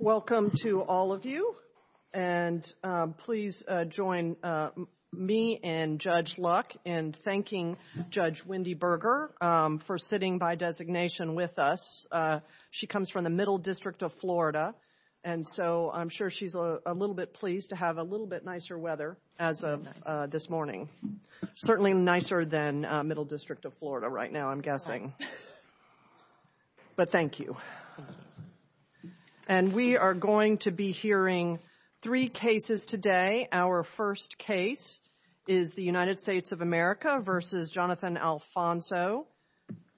Welcome to all of you, and please join me and Judge Luck in thanking Judge Wendy Berger for sitting by designation with us. She comes from the Middle District of Florida, and so I'm sure she's a little bit pleased to have a little bit nicer weather as of this morning. Certainly nicer than Middle District of Florida right now, I'm guessing, but thank you. And we are going to be hearing three cases today. Our first case is the United States of America v. Jhonathan Alfonso,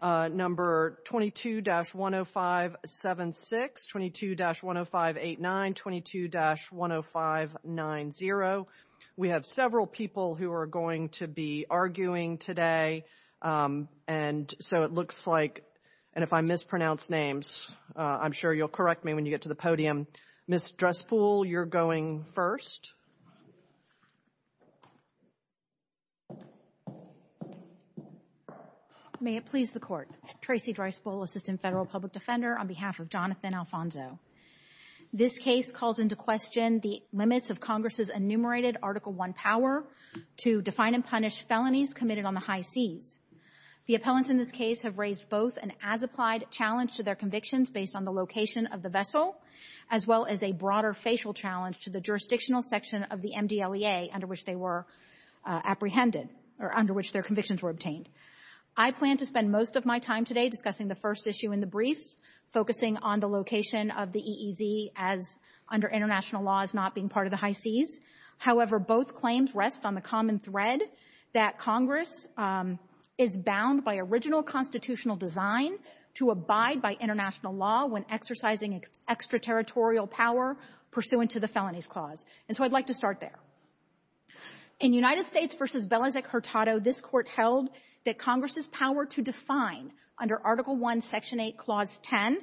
number 22-10576, 22-10589, 22-10590. We have several people who are going to be arguing today, and so it looks like, and if I mispronounce names, I'm sure you'll correct me when you get to the podium. Ms. Dresspool, you're going first. May it please the Court. Tracy Dresspool, Assistant Federal Public Defender, on behalf of Jhonathan Alfonso. This case calls into question the limits of Congress's enumerated Article I power to define and punish felonies committed on the high seas. The appellants in this case have raised both an as-applied challenge to their convictions based on the location of the vessel, as well as a broader facial challenge to the jurisdictional section of the MDLEA under which they were apprehended, or under which their convictions were obtained. I plan to spend most of my time today discussing the first issue in the briefs, focusing on the location of the EEZ as, under international law, as not being part of the high seas. However, both claims rest on the common thread that Congress is bound by original constitutional design to abide by international law when exercising extraterritorial power pursuant to the felonies clause, and so I'd like to start there. In United States v. Belzac-Hurtado, this Court held that Congress's power to define under Article I, Section 8, Clause 10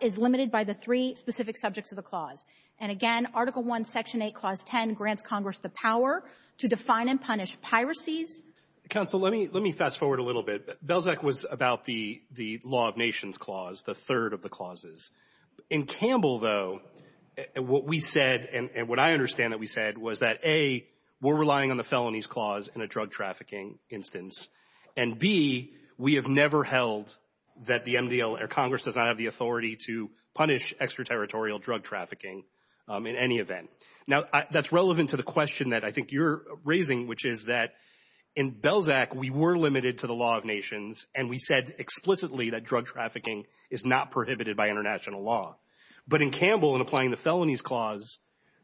is limited by the three specific subjects of the clause. And again, Article I, Section 8, Clause 10 grants Congress the power to define and punish piracies. Counsel, let me fast-forward a little bit. Belzac was about the law of nations clause, the third of the clauses. In Campbell, though, what we said, and what I understand that we said, was that A, we're relying on the felonies clause in a drug trafficking instance, and B, we have never held that Congress does not have the authority to punish extraterritorial drug trafficking in any event. Now, that's relevant to the question that I think you're raising, which is that in Belzac, we were limited to the law of nations, and we said explicitly that drug trafficking is not prohibited by international law. But in Campbell, in applying the felonies clause,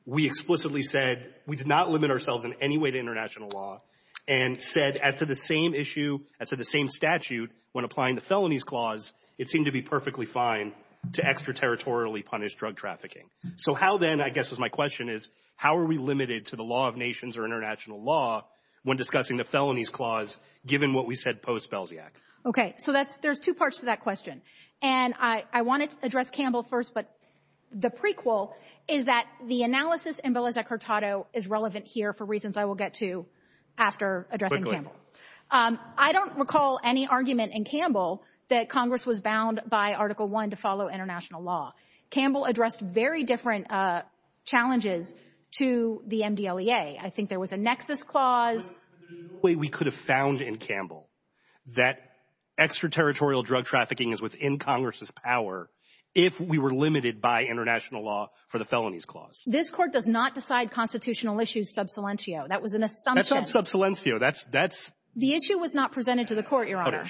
we explicitly said we did not limit ourselves in any way to international law, and said as to the same issue, as to the same statute, when applying the felonies clause, it seemed to be perfectly fine to extraterritorially punish drug trafficking. So how then, I guess is my question, is how are we limited to the law of nations or international law when discussing the felonies clause, given what we said post-Belziac? Okay. So there's two parts to that question. And I wanted to address Campbell first, but the prequel is that the analysis in Belzac-Curtado is relevant here for reasons I will get to after addressing Campbell. Quickly. I don't recall any argument in Campbell that Congress was bound by Article I to follow international law. Campbell addressed very different challenges to the MDLEA. I think there was a nexus clause. But there's no way we could have found in Campbell that extraterritorial drug trafficking is within Congress' power if we were limited by international law for the felonies clause. This Court does not decide constitutional issues sub silentio. That was an assumption. That's not sub silentio. That's — The issue was not presented to the Court, Your Honor.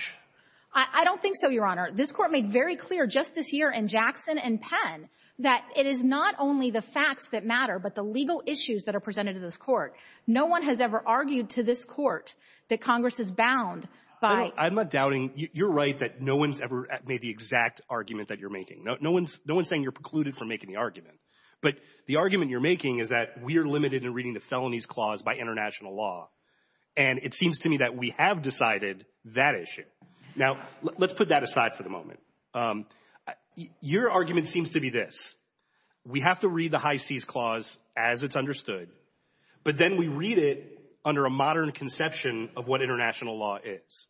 I don't think so, Your Honor. This Court made very clear just this year in Jackson and Penn that it is not only the facts that matter, but the legal issues that are presented to this Court. No one has ever argued to this Court that Congress is bound by — I'm not doubting — you're right that no one's ever made the exact argument that you're making. No one's saying you're precluded from making the argument. But the argument you're making is that we are limited in reading the felonies clause by international law. And it seems to me that we have decided that issue. Now, let's put that aside for the moment. Your argument seems to be this. We have to read the High Seas Clause as it's understood, but then we read it under a modern conception of what international law is.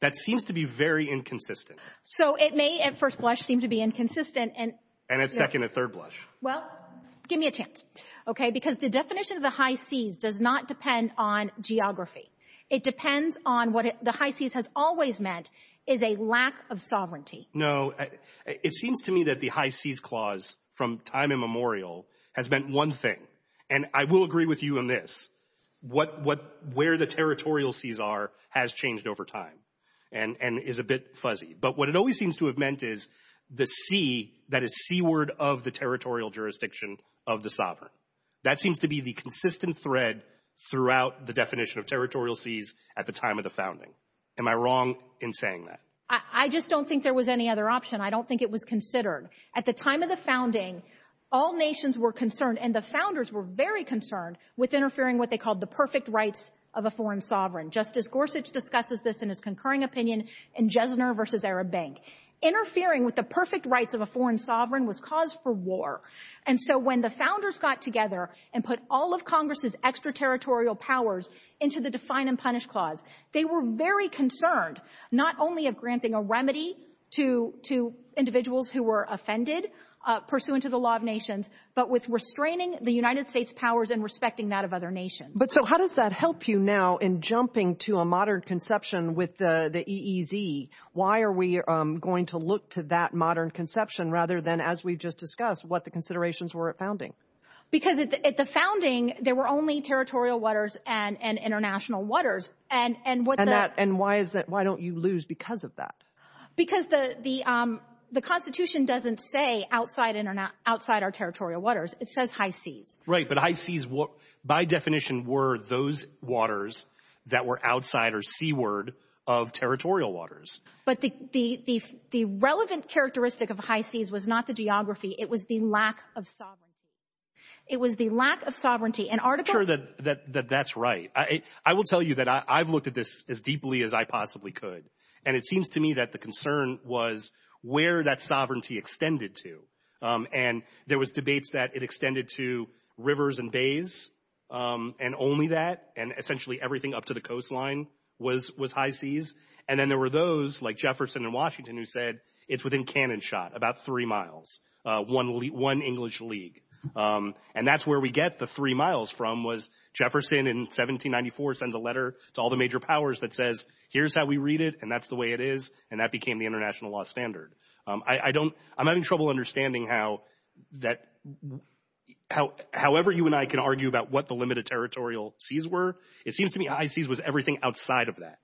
That seems to be very inconsistent. So it may at first blush seem to be inconsistent and — And at second and third blush. Well, give me a chance, okay? Because the definition of the High Seas does not depend on geography. It depends on what the High Seas has always meant is a lack of sovereignty. No, it seems to me that the High Seas Clause from time immemorial has meant one thing. And I will agree with you on this. Where the territorial seas are has changed over time and is a bit fuzzy. But what it always seems to have meant is the sea that is seaward of the territorial jurisdiction of the sovereign. That seems to be the consistent thread throughout the definition of territorial seas at the time of the founding. Am I wrong in saying that? I just don't think there was any other option. I don't think it was considered. At the time of the founding, all nations were concerned, and the founders were very concerned, with interfering what they called the perfect rights of a foreign sovereign, just as Gorsuch discusses this in his concurring opinion in Jesner v. Arab Bank. Interfering with the perfect rights of a foreign sovereign was cause for war. And so when the founders got together and put all of Congress's extraterritorial powers into the Define and Punish Clause, they were very concerned not only of granting a remedy to individuals who were offended pursuant to the law of nations, but with restraining the United States' powers and respecting that of other nations. But so how does that help you now in jumping to a modern conception with the EEZ? Why are we going to look to that modern conception rather than, as we just discussed, what the considerations were at founding? Because at the founding, there were only territorial waters and international waters. And why don't you lose because of that? Because the Constitution doesn't say outside our territorial waters. It says high seas. Right, but high seas, by definition, were those waters that were outside or seaward of territorial waters. But the relevant characteristic of high seas was not the geography. It was the lack of sovereignty. It was the lack of sovereignty. I'm not sure that that's right. I will tell you that I've looked at this as deeply as I possibly could. And it seems to me that the concern was where that sovereignty extended to. And there was debates that it extended to rivers and bays and only that, and essentially everything up to the coastline was high seas. And then there were those like Jefferson and Washington who said it's within cannon shot, about three miles, one English league. And that's where we get the three miles from was Jefferson in 1794 sends a letter to all the major powers that says, here's how we read it and that's the way it is. And that became the international law standard. I don't, I'm having trouble understanding how that, however you and I can argue about what the limited territorial seas were. It seems to me high seas was everything outside of that.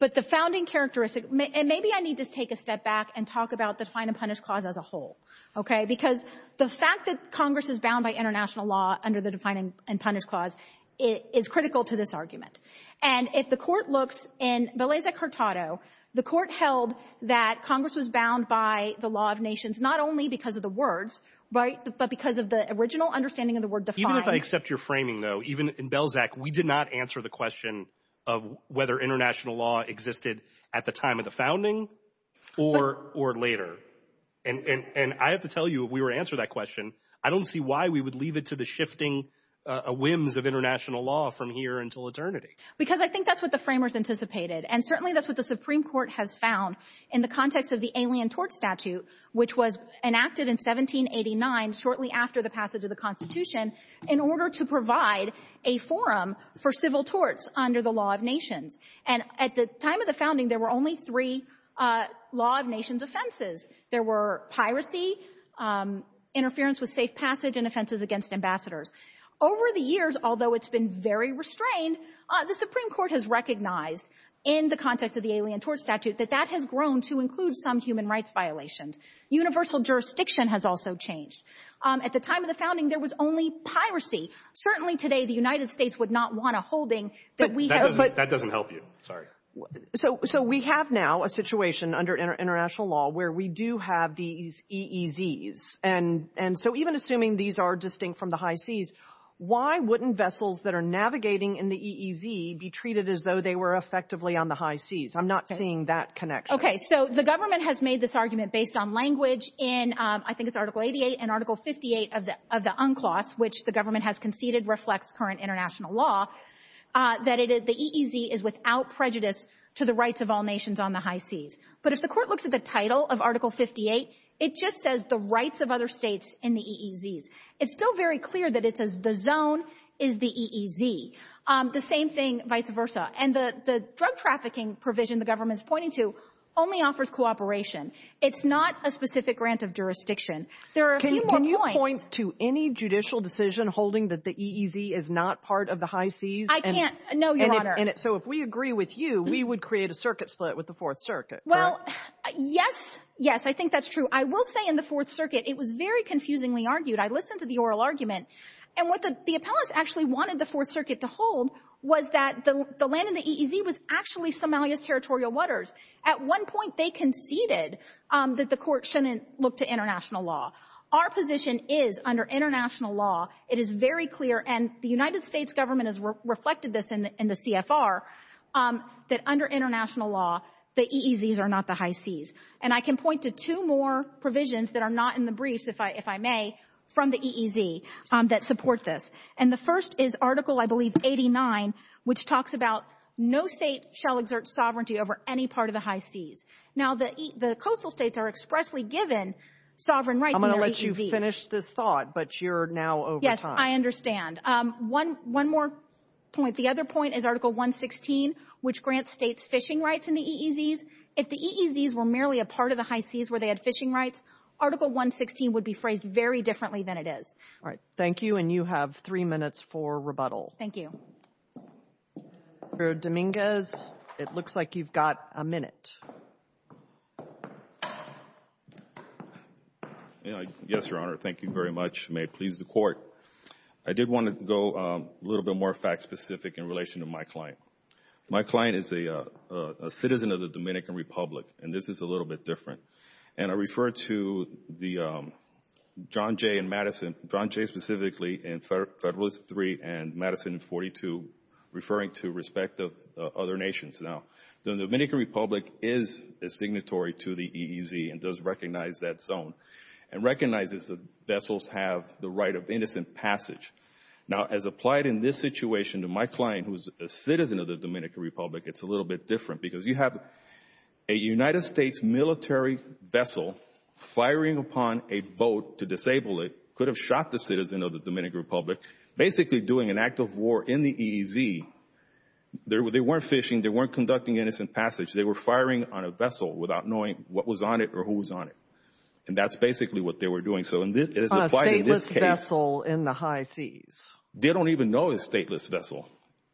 But the founding characteristic, and maybe I need to take a step back and talk about the fine and punish clause as a whole. OK, because the fact that Congress is bound by international law under the defining and punish clause is critical to this argument. And if the court looks in Belezec-Hurtado, the court held that Congress was bound by the law of nations not only because of the words, but because of the original understanding of the word defined. Even if I accept your framing, though, even in Belzec, we did not answer the question of whether international law existed at the time of the founding or later. And I have to tell you, if we were to answer that question, I don't see why we would leave it to the shifting whims of international law from here until eternity. Because I think that's what the framers anticipated. And certainly that's what the Supreme Court has found in the context of the alien tort statute, which was enacted in 1789, shortly after the passage of the Constitution, in order to provide a forum for civil torts under the law of nations. And at the time of the founding, there were only three law of nations offenses. There were piracy, interference with safe passage, and offenses against ambassadors. Over the years, although it's been very restrained, the Supreme Court has recognized in the context of the alien tort statute that that has grown to include some human rights violations. Universal jurisdiction has also changed. At the time of the founding, there was only piracy. Certainly today, the United States would not want a holding that we have. But that doesn't help you. Sorry. So we have now a situation under international law where we do have these EEZs. And so even assuming these are distinct from the high seas, why wouldn't vessels that are navigating in the EEZ be treated as though they were effectively on the high seas? I'm not seeing that connection. Okay. So the government has made this argument based on language in I think it's Article 88 and Article 58 of the UNCLOS, which the government has conceded reflects current international law, that the EEZ is without prejudice to the rights of all nations on the high seas. But if the Court looks at the title of Article 58, it just says the rights of other states in the EEZs. It's still very clear that it says the zone is the EEZ. The same thing vice versa. And the drug trafficking provision the government is pointing to only offers cooperation. It's not a specific grant of jurisdiction. There are a few more points. Can you point to any judicial decision holding that the EEZ is not part of the high seas? I can't. No, Your Honor. So if we agree with you, we would create a circuit split with the Fourth Circuit, correct? Well, yes. Yes, I think that's true. I will say in the Fourth Circuit it was very confusingly argued. I listened to the oral argument. And what the appellants actually wanted the Fourth Circuit to hold was that the land in the EEZ was actually Somalia's territorial waters. At one point they conceded that the Court shouldn't look to international law. Our position is under international law it is very clear, and the United States government has reflected this in the CFR, that under international law the EEZs are not the high seas. And I can point to two more provisions that are not in the briefs, if I may, from the EEZ that support this. And the first is Article, I believe, 89, which talks about no state shall exert sovereignty over any part of the high seas. Now, the coastal states are expressly given sovereign rights in their EEZs. I'm going to let you finish this thought, but you're now over time. Yes, I understand. One more point. The other point is Article 116, which grants states fishing rights in the EEZs. If the EEZs were merely a part of the high seas where they had fishing rights, Article 116 would be phrased very differently than it is. All right. Thank you, and you have three minutes for rebuttal. Thank you. Mr. Dominguez, it looks like you've got a minute. Yes, Your Honor. Thank you very much. May it please the Court. I did want to go a little bit more fact-specific in relation to my client. My client is a citizen of the Dominican Republic, and this is a little bit different. And I refer to John Jay and Madison, John Jay specifically in Federalist 3 and Madison in 42, referring to respect of other nations. Now, the Dominican Republic is a signatory to the EEZ and does recognize that zone and recognizes that vessels have the right of innocent passage. Now, as applied in this situation to my client, who is a citizen of the Dominican Republic, it's a little bit different because you have a United States military vessel firing upon a boat to disable it, could have shot the citizen of the Dominican Republic, basically doing an act of war in the EEZ. They weren't fishing. They weren't conducting innocent passage. They were firing on a vessel without knowing what was on it or who was on it. And that's basically what they were doing. A stateless vessel in the high seas. They don't even know it's a stateless vessel.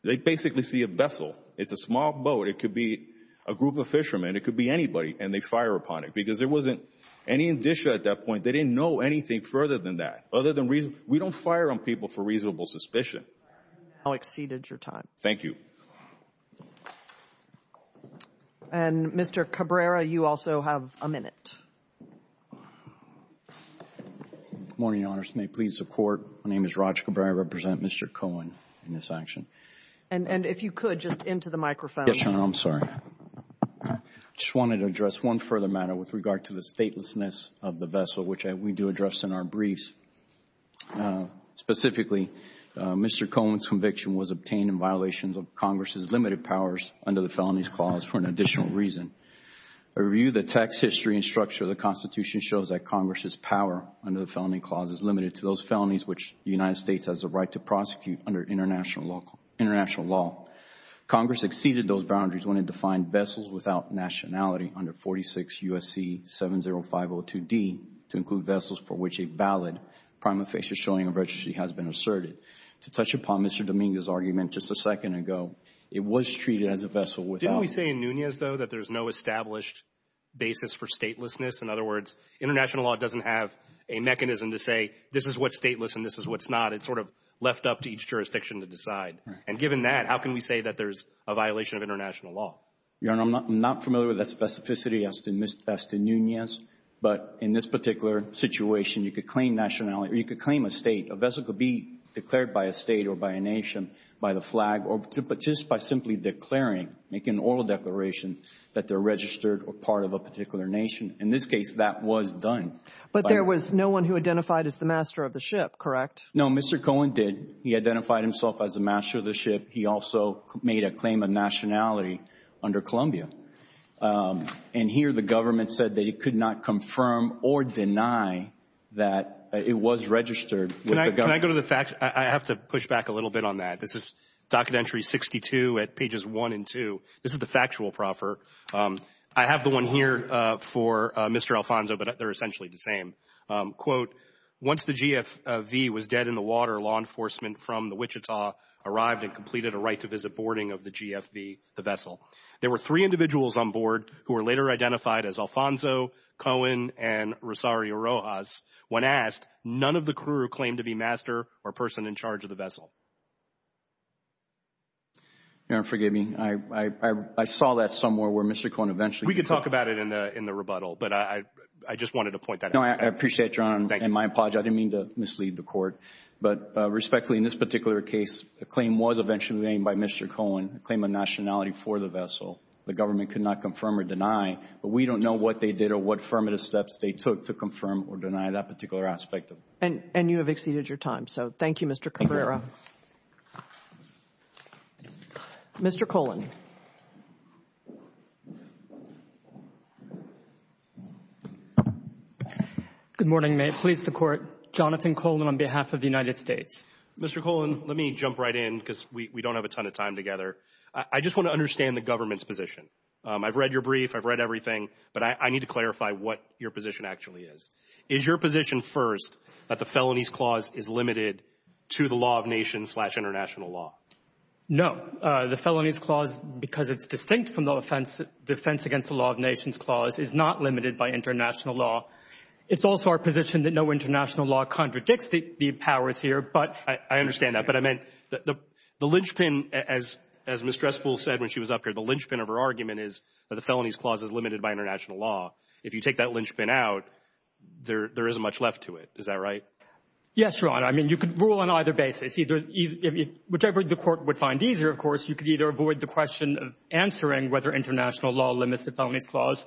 They basically see a vessel. It's a small boat. It could be a group of fishermen. It could be anybody. And they fire upon it because there wasn't any indicia at that point. They didn't know anything further than that, other than we don't fire on people for reasonable suspicion. I'll exceed your time. Thank you. And, Mr. Cabrera, you also have a minute. Good morning, Your Honors. May it please the Court. My name is Raj Cabrera. I represent Mr. Cohen in this action. And if you could, just into the microphone. Yes, Your Honor, I'm sorry. I just wanted to address one further matter with regard to the statelessness of the vessel, which we do address in our briefs. Specifically, Mr. Cohen's conviction was obtained in violation of Congress's limited powers under the Felonies Clause for an additional reason. A review of the text, history, and structure of the Constitution shows that Congress's power under the Felony Clause is limited to those felonies which the United States has a right to prosecute under international law. Congress exceeded those boundaries when it defined vessels without nationality under 46 U.S.C. 70502D to include vessels for which a valid prima facie showing of registry has been asserted. To touch upon Mr. Dominguez's argument just a second ago, it was treated as a vessel without. Didn't we say in Nunez, though, that there's no established basis for statelessness? In other words, international law doesn't have a mechanism to say this is what's stateless and this is what's not. It's sort of left up to each jurisdiction to decide. And given that, how can we say that there's a violation of international law? Your Honor, I'm not familiar with the specificity as to Nunez. But in this particular situation, you could claim nationality or you could claim a state. A vessel could be declared by a state or by a nation by the flag or just by simply declaring, make an oral declaration that they're registered or part of a particular nation. In this case, that was done. But there was no one who identified as the master of the ship, correct? No, Mr. Cohen did. He identified himself as the master of the ship. He also made a claim of nationality under Columbia. And here the government said that it could not confirm or deny that it was registered with the government. Can I go to the facts? I have to push back a little bit on that. This is docket entry 62 at pages 1 and 2. This is the factual proffer. I have the one here for Mr. Alfonso, but they're essentially the same. Quote, once the GFV was dead in the water, law enforcement from the Wichita arrived and completed a right-to-visit boarding of the GFV, the vessel. There were three individuals on board who were later identified as Alfonso, Cohen, and Rosario Rojas. When asked, none of the crew claimed to be master or person in charge of the vessel. Forgive me. I saw that somewhere where Mr. Cohen eventually— We could talk about it in the rebuttal, but I just wanted to point that out. No, I appreciate your honor, and my apology. I didn't mean to mislead the court. But respectfully, in this particular case, the claim was eventually made by Mr. Cohen, a claim of nationality for the vessel. The government could not confirm or deny, but we don't know what they did or what affirmative steps they took to confirm or deny that particular aspect. And you have exceeded your time, so thank you, Mr. Cabrera. Mr. Cohen. Good morning. May it please the Court. Jonathan Cohen on behalf of the United States. Mr. Cohen, let me jump right in because we don't have a ton of time together. I just want to understand the government's position. I've read your brief. I've read everything. But I need to clarify what your position actually is. Is your position first that the Felonies Clause is limited to the law of nations slash international law? No. The Felonies Clause, because it's distinct from the Defense Against the Law of Nations Clause, is not limited by international law. It's also our position that no international law contradicts the powers here. I understand that. But I meant the linchpin, as Ms. Dressel said when she was up here, the linchpin of her argument is that the Felonies Clause is limited by international law. If you take that linchpin out, there isn't much left to it. Is that right? Yes, Your Honor. I mean, you can rule on either basis. Whatever the Court would find easier, of course, you could either avoid the question of answering whether international law limits the Felonies Clause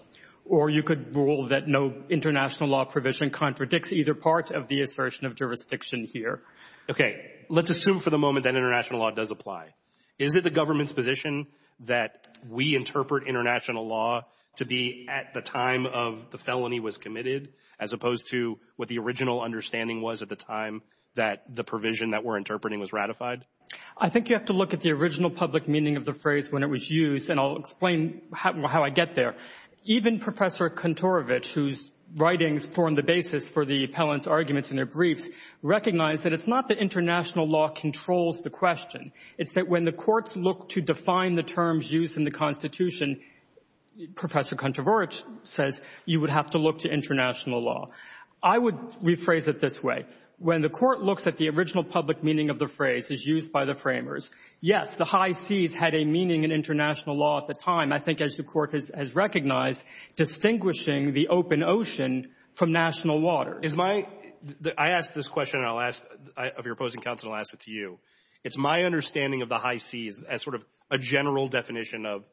or you could rule that no international law provision contradicts either part of the assertion of jurisdiction here. Okay. Let's assume for the moment that international law does apply. Is it the government's position that we interpret international law to be at the time of the felony was committed as opposed to what the original understanding was at the time that the provision that we're interpreting was ratified? I think you have to look at the original public meaning of the phrase when it was used, and I'll explain how I get there. Even Professor Kontorovich, whose writings form the basis for the appellant's arguments in their briefs, recognized that it's not that international law controls the question. It's that when the courts look to define the terms used in the Constitution, Professor Kontorovich says you would have to look to international law. I would rephrase it this way. When the court looks at the original public meaning of the phrase as used by the I think as the court has recognized, distinguishing the open ocean from national waters. I ask this question, and I'll ask of your opposing counsel, and I'll ask it to you. It's my understanding of the high seas as sort of a general definition of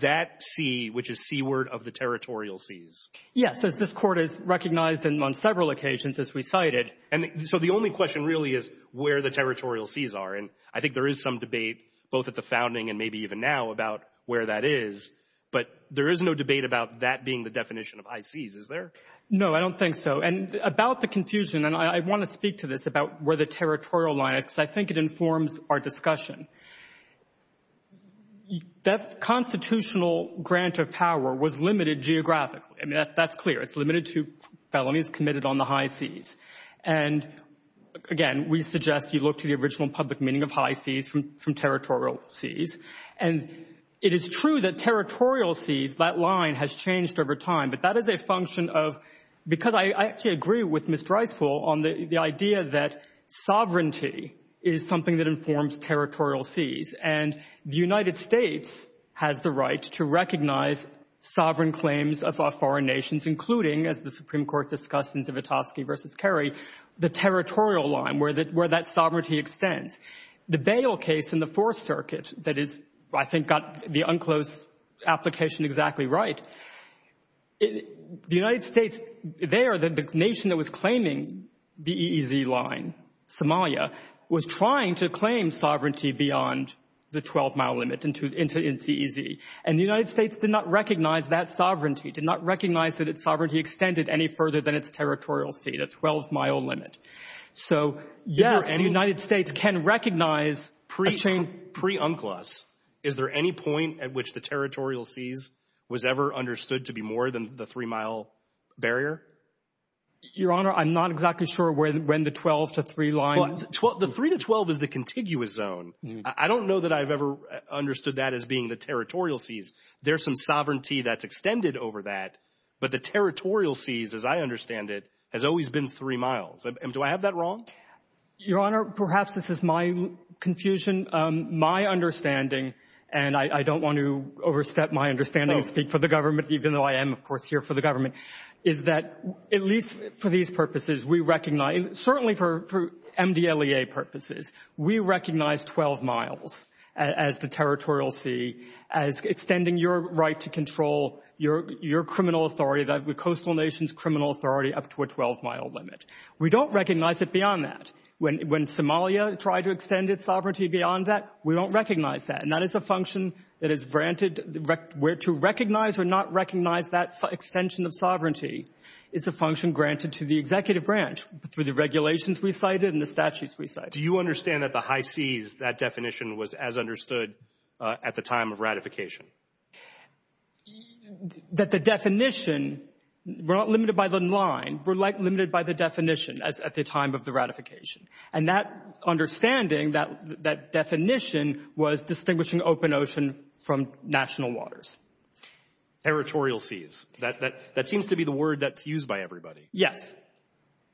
that sea, which is seaward of the territorial seas. Yes. As this court has recognized on several occasions, as we cited. So the only question really is where the territorial seas are. And I think there is some debate, both at the founding and maybe even now, about where that is. But there is no debate about that being the definition of high seas, is there? No, I don't think so. And about the confusion, and I want to speak to this about where the territorial line is because I think it informs our discussion. That constitutional grant of power was limited geographically. I mean, that's clear. It's limited to felonies committed on the high seas. And again, we suggest you look to the original public meaning of high seas from territorial seas. And it is true that territorial seas, that line has changed over time. But that is a function of, because I actually agree with Mr. Eisfel on the idea that sovereignty is something that informs territorial seas. And the United States has the right to recognize sovereign claims of our foreign nations, including, as the Supreme Court discussed in Zivotofsky v. Kerry, the territorial line, where that sovereignty extends. The bail case in the Fourth Circuit that is, I think, got the unclosed application exactly right, the United States there, the nation that was claiming the EEZ line, Somalia, was trying to claim sovereignty beyond the 12-mile limit into EEZ. And the United States did not recognize that sovereignty, did not recognize that its sovereignty extended any further than its territorial sea, the 12-mile limit. So, yes, the United States can recognize a change. Pre-UNCLOS, is there any point at which the territorial seas was ever understood to be more than the 3-mile barrier? Your Honor, I'm not exactly sure when the 12- to 3-line. The 3-to-12 is the contiguous zone. I don't know that I've ever understood that as being the territorial seas. There's some sovereignty that's extended over that, but the territorial seas, as I understand it, has always been 3 miles. Do I have that wrong? Your Honor, perhaps this is my confusion. My understanding, and I don't want to overstep my understanding and speak for the government, even though I am, of course, here for the government, is that at least for these purposes, we recognize, certainly for MDLEA purposes, we recognize 12 miles as the territorial sea, as extending your right to control your criminal authority, the coastal nation's criminal authority, up to a 12-mile limit. We don't recognize it beyond that. When Somalia tried to extend its sovereignty beyond that, we don't recognize that. And that is a function that is granted. To recognize or not recognize that extension of sovereignty is a function granted to the Do you understand that the high seas, that definition was as understood at the time of ratification? That the definition, we're not limited by the line. We're limited by the definition at the time of the ratification. And that understanding, that definition, was distinguishing open ocean from national waters. Territorial seas. That seems to be the word that's used by everybody. Yes.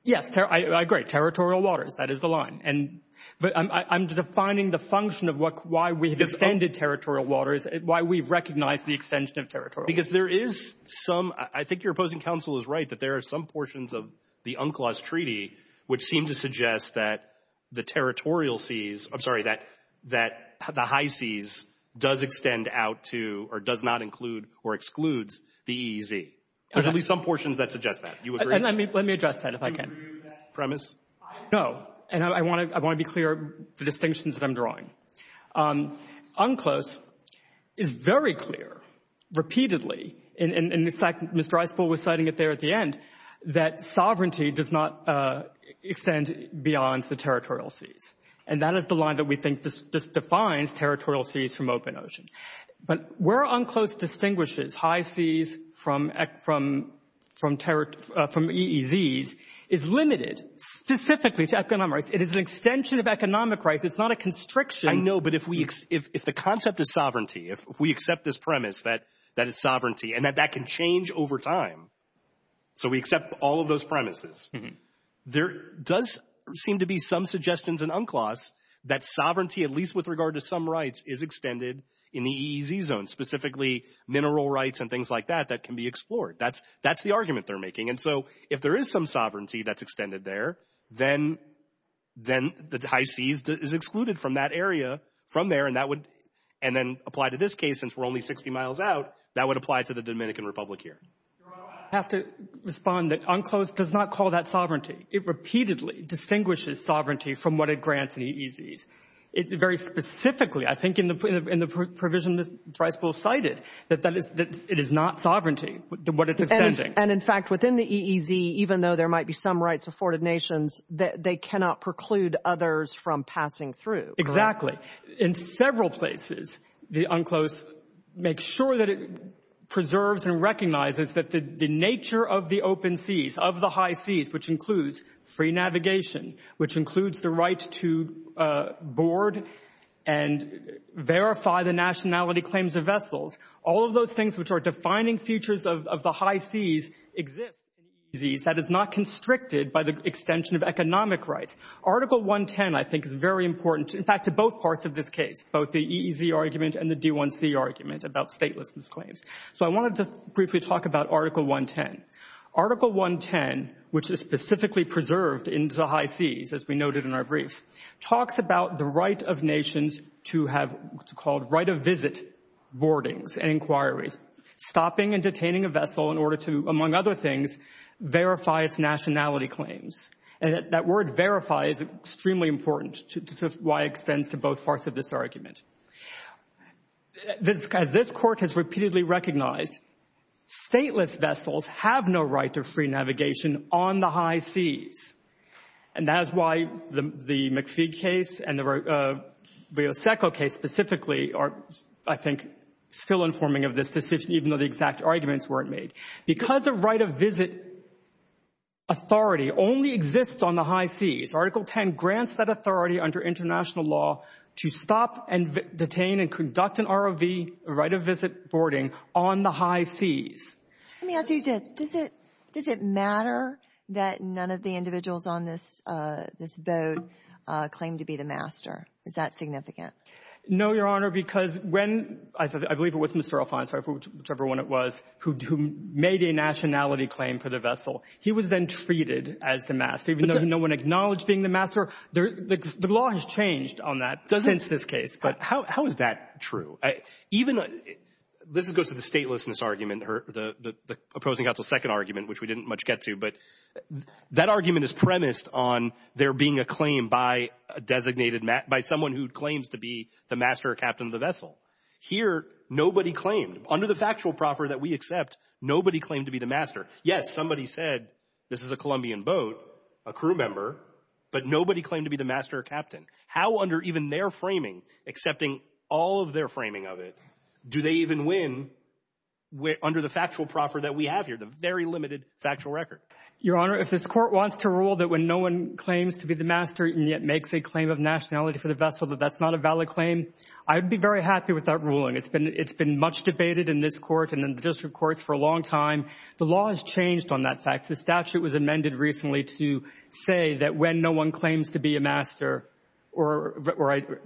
Yes, I agree. Territorial waters, that is the line. But I'm defining the function of why we've extended territorial waters, why we've recognized the extension of territorial waters. Because there is some, I think your opposing counsel is right, that there are some portions of the UNCLOS treaty which seem to suggest that the territorial seas, I'm sorry, that the high seas does extend out to or does not include or excludes the EEZ. There's at least some portions that suggest that. You agree? Let me address that, if I can. No. And I want to be clear of the distinctions that I'm drawing. UNCLOS is very clear, repeatedly, and in fact Mr. Isepul was citing it there at the end, that sovereignty does not extend beyond the territorial seas. And that is the line that we think defines territorial seas from open ocean. But where UNCLOS distinguishes high seas from EEZs is limited specifically to economic rights. It is an extension of economic rights. It's not a constriction. I know, but if the concept is sovereignty, if we accept this premise that it's sovereignty, and that that can change over time, so we accept all of those premises, there does seem to be some suggestions in UNCLOS that sovereignty, at least with regard to some rights, is extended in the EEZ zone, specifically mineral rights and things like that that can be explored. That's the argument they're making. And so if there is some sovereignty that's extended there, then the high seas is excluded from that area from there, and then apply to this case, since we're only 60 miles out, that would apply to the Dominican Republic here. I have to respond that UNCLOS does not call that sovereignty. It repeatedly distinguishes sovereignty from what it grants in EEZs. It very specifically, I think, in the provision that Driscoll cited, that it is not sovereignty, what it's extending. And, in fact, within the EEZ, even though there might be some rights afforded nations, they cannot preclude others from passing through. Exactly. In several places, UNCLOS makes sure that it preserves and recognizes that the nature of the open seas, of the high seas, which includes free navigation, which includes the right to board and verify the nationality claims of vessels, all of those things which are defining features of the high seas exist in EEZs. That is not constricted by the extension of economic rights. Article 110, I think, is very important, in fact, to both parts of this case, both the EEZ argument and the D1C argument about statelessness claims. So I want to just briefly talk about Article 110. Article 110, which is specifically preserved in the high seas, as we noted in our briefs, talks about the right of nations to have what's called right-of-visit boardings and inquiries, stopping and detaining a vessel in order to, among other things, verify its nationality claims. And that word verify is extremely important to why it extends to both parts of this argument. As this Court has repeatedly recognized, stateless vessels have no right to free navigation on the high seas. And that is why the McPhee case and the Rioseco case specifically are, I think, still informing of this decision, even though the exact arguments weren't made. Because the right-of-visit authority only exists on the high seas, Article 10 grants that authority under international law to stop and detain and conduct an ROV, right-of-visit boarding, on the high seas. Let me ask you this. Does it matter that none of the individuals on this boat claim to be the master? Is that significant? No, Your Honor, because when – I believe it was Mr. Alfonso, whichever one it was, who made a nationality claim for the vessel. He was then treated as the master, even though no one acknowledged being the master. The law has changed on that since this case. How is that true? Even – this goes to the statelessness argument, the opposing counsel's second argument, which we didn't much get to. But that argument is premised on there being a claim by a designated – by someone who claims to be the master or captain of the vessel. Here, nobody claimed. Under the factual proffer that we accept, nobody claimed to be the master. Yes, somebody said this is a Colombian boat, a crew member, but nobody claimed to be the master or captain. How under even their framing, accepting all of their framing of it, do they even win under the factual proffer that we have here, the very limited factual record? Your Honor, if this Court wants to rule that when no one claims to be the master and yet makes a claim of nationality for the vessel that that's not a valid claim, I would be very happy with that ruling. It's been much debated in this Court and in the district courts for a long time. The law has changed on that fact. The statute was amended recently to say that when no one claims to be a master or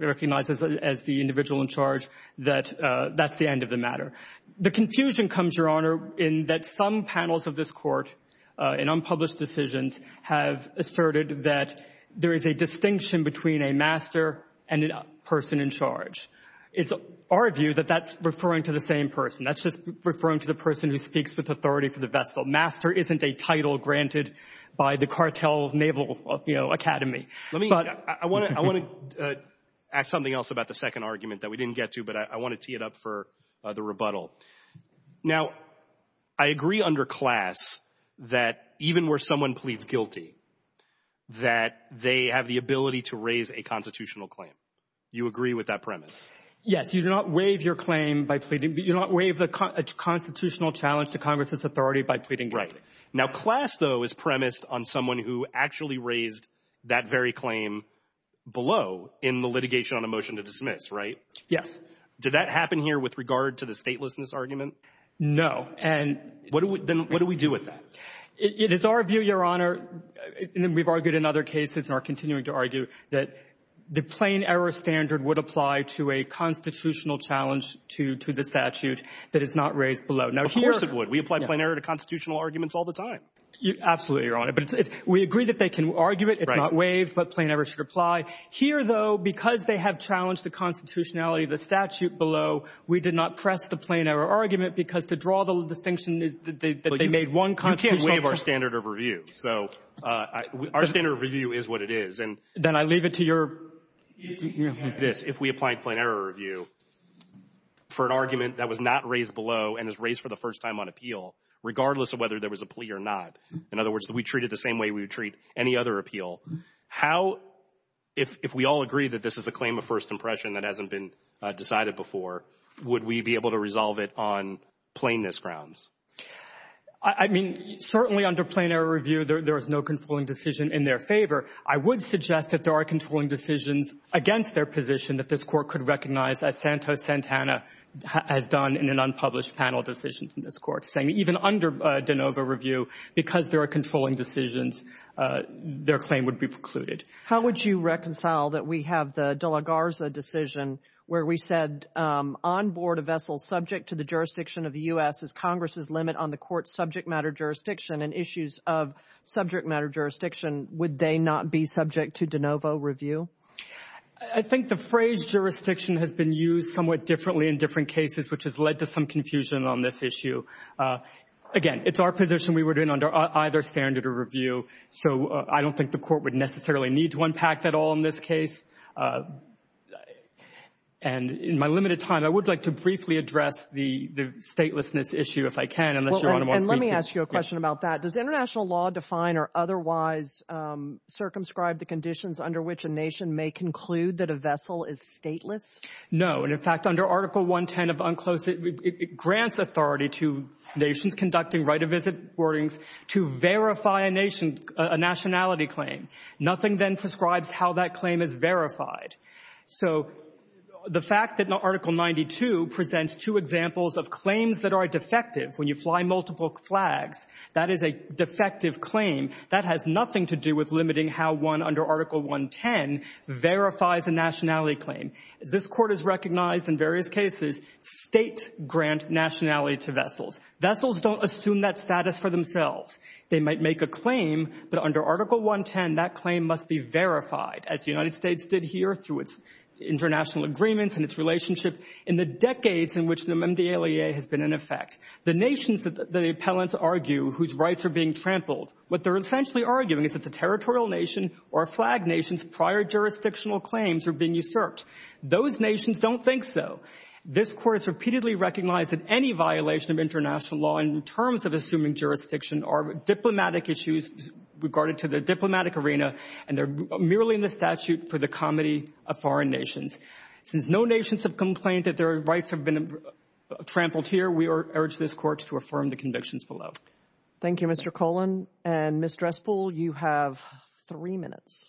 recognizes as the individual in charge that that's the end of the matter. The confusion comes, Your Honor, in that some panels of this Court in unpublished decisions have asserted that there is a distinction between a master and a person in charge. It's our view that that's referring to the same person. That's just referring to the person who speaks with authority for the vessel. Master isn't a title granted by the cartel naval academy. I want to ask something else about the second argument that we didn't get to, but I want to tee it up for the rebuttal. Now, I agree under class that even where someone pleads guilty, that they have the ability to raise a constitutional claim. You agree with that premise? Yes. You do not waive your claim by pleading. You do not waive a constitutional challenge to Congress's authority by pleading guilty. Right. Now, class, though, is premised on someone who actually raised that very claim below in the litigation on a motion to dismiss, right? Yes. Did that happen here with regard to the statelessness argument? No. Then what do we do with that? It is our view, Your Honor, and we've argued in other cases and are continuing to argue that the plain error standard would apply to a constitutional challenge to the statute that is not raised below. Of course it would. We apply plain error to constitutional arguments all the time. Absolutely. We agree that they can argue it. It's not waived, but plain error should apply. Here, though, because they have challenged the constitutionality of the statute below, we did not press the plain error argument because to draw the distinction is that they made one constitutional challenge. You can't waive our standard of review. So our standard of review is what it is. Then I leave it to your ---- If we apply plain error review for an argument that was not raised below and is raised for the first time on appeal, regardless of whether there was a plea or not, in other words, that we treat it the same way we would treat any other appeal, how, if we all agree that this is a claim of first impression that hasn't been decided before, would we be able to resolve it on plainness grounds? I mean, certainly under plain error review, there is no controlling decision in their favor. I would suggest that there are controlling decisions against their position that this Court could recognize, as Santos Santana has done in an unpublished panel decision from this Court, saying even under de novo review, because there are controlling decisions, their claim would be precluded. How would you reconcile that we have the de la Garza decision where we said, on board a vessel subject to the jurisdiction of the U.S. is Congress's limit on the Court's subject matter jurisdiction and issues of subject matter jurisdiction, would they not be subject to de novo review? I think the phrase jurisdiction has been used somewhat differently in different cases, which has led to some confusion on this issue. Again, it's our position we were doing under either standard of review, so I don't think the Court would necessarily need to unpack that all in this case. In my limited time, I would like to briefly address the statelessness issue, if I can, unless Your Honor wants me to. Let me ask you a question about that. Does international law define or otherwise circumscribe the conditions under which a nation may conclude that a vessel is stateless? No. In fact, under Article 110 of UNCLOS, it grants authority to nations conducting right of visit boardings to verify a nation, a nationality claim. Nothing then prescribes how that claim is verified. So the fact that Article 92 presents two examples of claims that are defective, when you fly multiple flags, that is a defective claim. That has nothing to do with limiting how one, under Article 110, verifies a nationality claim. This Court has recognized in various cases states grant nationality to vessels. Vessels don't assume that status for themselves. They might make a claim, but under Article 110, that claim must be verified, as the United States did here through its international agreements and its relationship in the decades in which the amendment of the ALEA has been in effect. The nations that the appellants argue whose rights are being trampled, what they're essentially arguing is that the territorial nation or flag nation's prior jurisdictional claims are being usurped. Those nations don't think so. This Court has repeatedly recognized that any violation of international law in terms of assuming jurisdiction are diplomatic issues regarded to the diplomatic arena, and they're merely in the statute for the comity of foreign nations. Since no nations have complained that their rights have been trampled here, we urge this Court to affirm the convictions below. Thank you, Mr. Cullen. Ms. Dresspel, you have three minutes.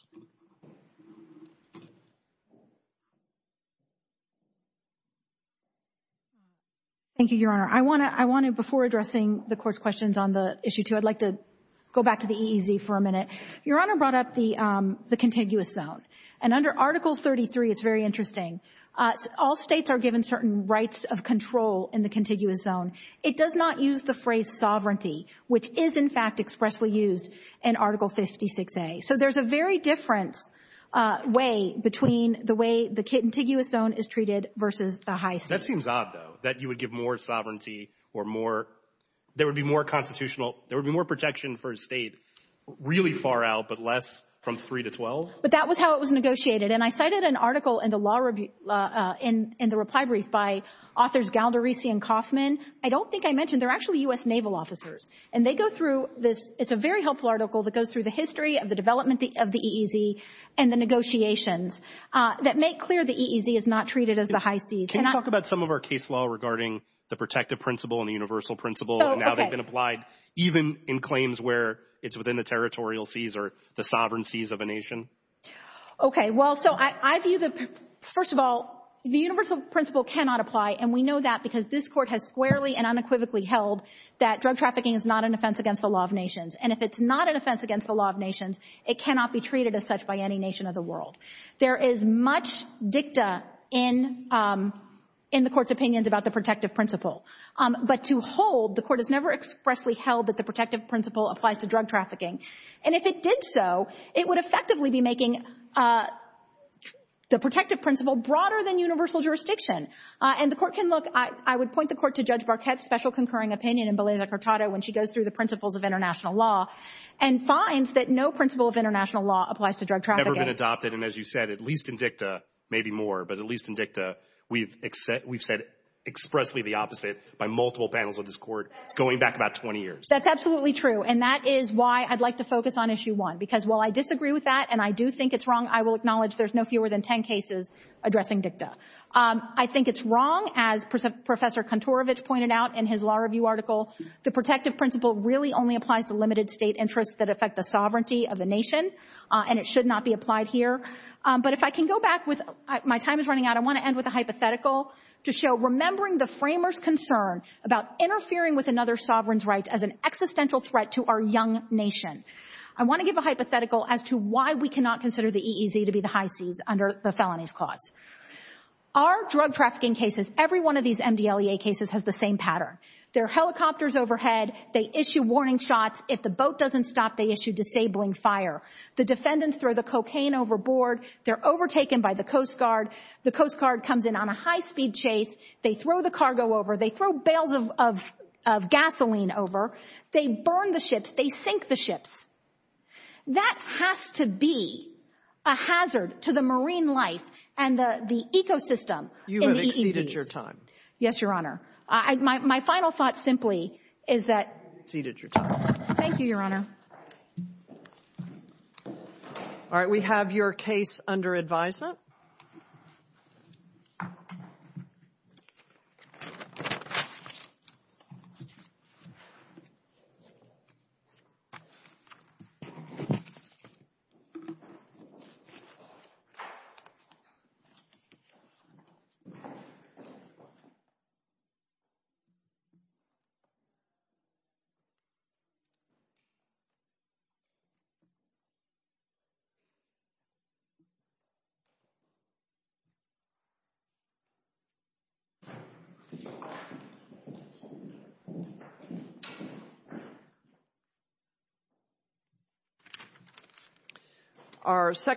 Thank you, Your Honor. I want to, before addressing the Court's questions on the issue too, I'd like to go back to the EEZ for a minute. Your Honor brought up the contiguous zone, and under Article 33, it's very interesting. All states are given certain rights of control in the contiguous zone. It does not use the phrase sovereignty, which is, in fact, expressly used in Article 56A. So there's a very different way between the way the contiguous zone is treated versus the high states. It seems odd, though, that you would give more sovereignty or there would be more protection for a state really far out but less from 3 to 12. But that was how it was negotiated. And I cited an article in the reply brief by authors Galdarisi and Kauffman. I don't think I mentioned they're actually U.S. naval officers, and they go through this. It's a very helpful article that goes through the history of the development of the EEZ and the negotiations that make clear the EEZ is not treated as the high seas. Can you talk about some of our case law regarding the protective principle and the universal principle and how they've been applied, even in claims where it's within the territorial seas or the sovereign seas of a nation? Okay. Well, so I view that, first of all, the universal principle cannot apply, and we know that because this Court has squarely and unequivocally held that drug trafficking is not an offense against the law of nations. And if it's not an offense against the law of nations, it cannot be treated as such by any nation of the world. There is much dicta in the Court's opinions about the protective principle. But to hold, the Court has never expressly held that the protective principle applies to drug trafficking. And if it did so, it would effectively be making the protective principle broader than universal jurisdiction. And the Court can look. I would point the Court to Judge Barquette's special concurring opinion in Beleza-Cortado when she goes through the principles of international law and finds that no principle of international law applies to drug trafficking. It's never been adopted. And as you said, at least in dicta, maybe more, but at least in dicta, we've said expressly the opposite by multiple panels of this Court going back about 20 years. That's absolutely true. And that is why I'd like to focus on Issue 1, because while I disagree with that and I do think it's wrong, I will acknowledge there's no fewer than 10 cases addressing dicta. I think it's wrong, as Professor Kantorovich pointed out in his law review article, the protective principle really only applies to limited state interests that affect the sovereignty of a nation, and it should not be applied here. But if I can go back with my time is running out, I want to end with a hypothetical to show remembering the framers' concern about interfering with another sovereign's rights as an existential threat to our young nation. I want to give a hypothetical as to why we cannot consider the EEZ to be the high seas under the Felonies Clause. Our drug trafficking cases, every one of these MDLEA cases, has the same pattern. There are helicopters overhead. They issue warning shots. If the boat doesn't stop, they issue disabling fire. The defendants throw the cocaine overboard. They're overtaken by the Coast Guard. The Coast Guard comes in on a high-speed chase. They throw the cargo over. They throw bales of gasoline over. They burn the ships. They sink the ships. That has to be a hazard to the marine life and the ecosystem in the EEZs. You have exceeded your time. Yes, Your Honor. My final thought simply is that you have exceeded your time. Thank you, Your Honor. All right, we have your case under advisement. Thank you.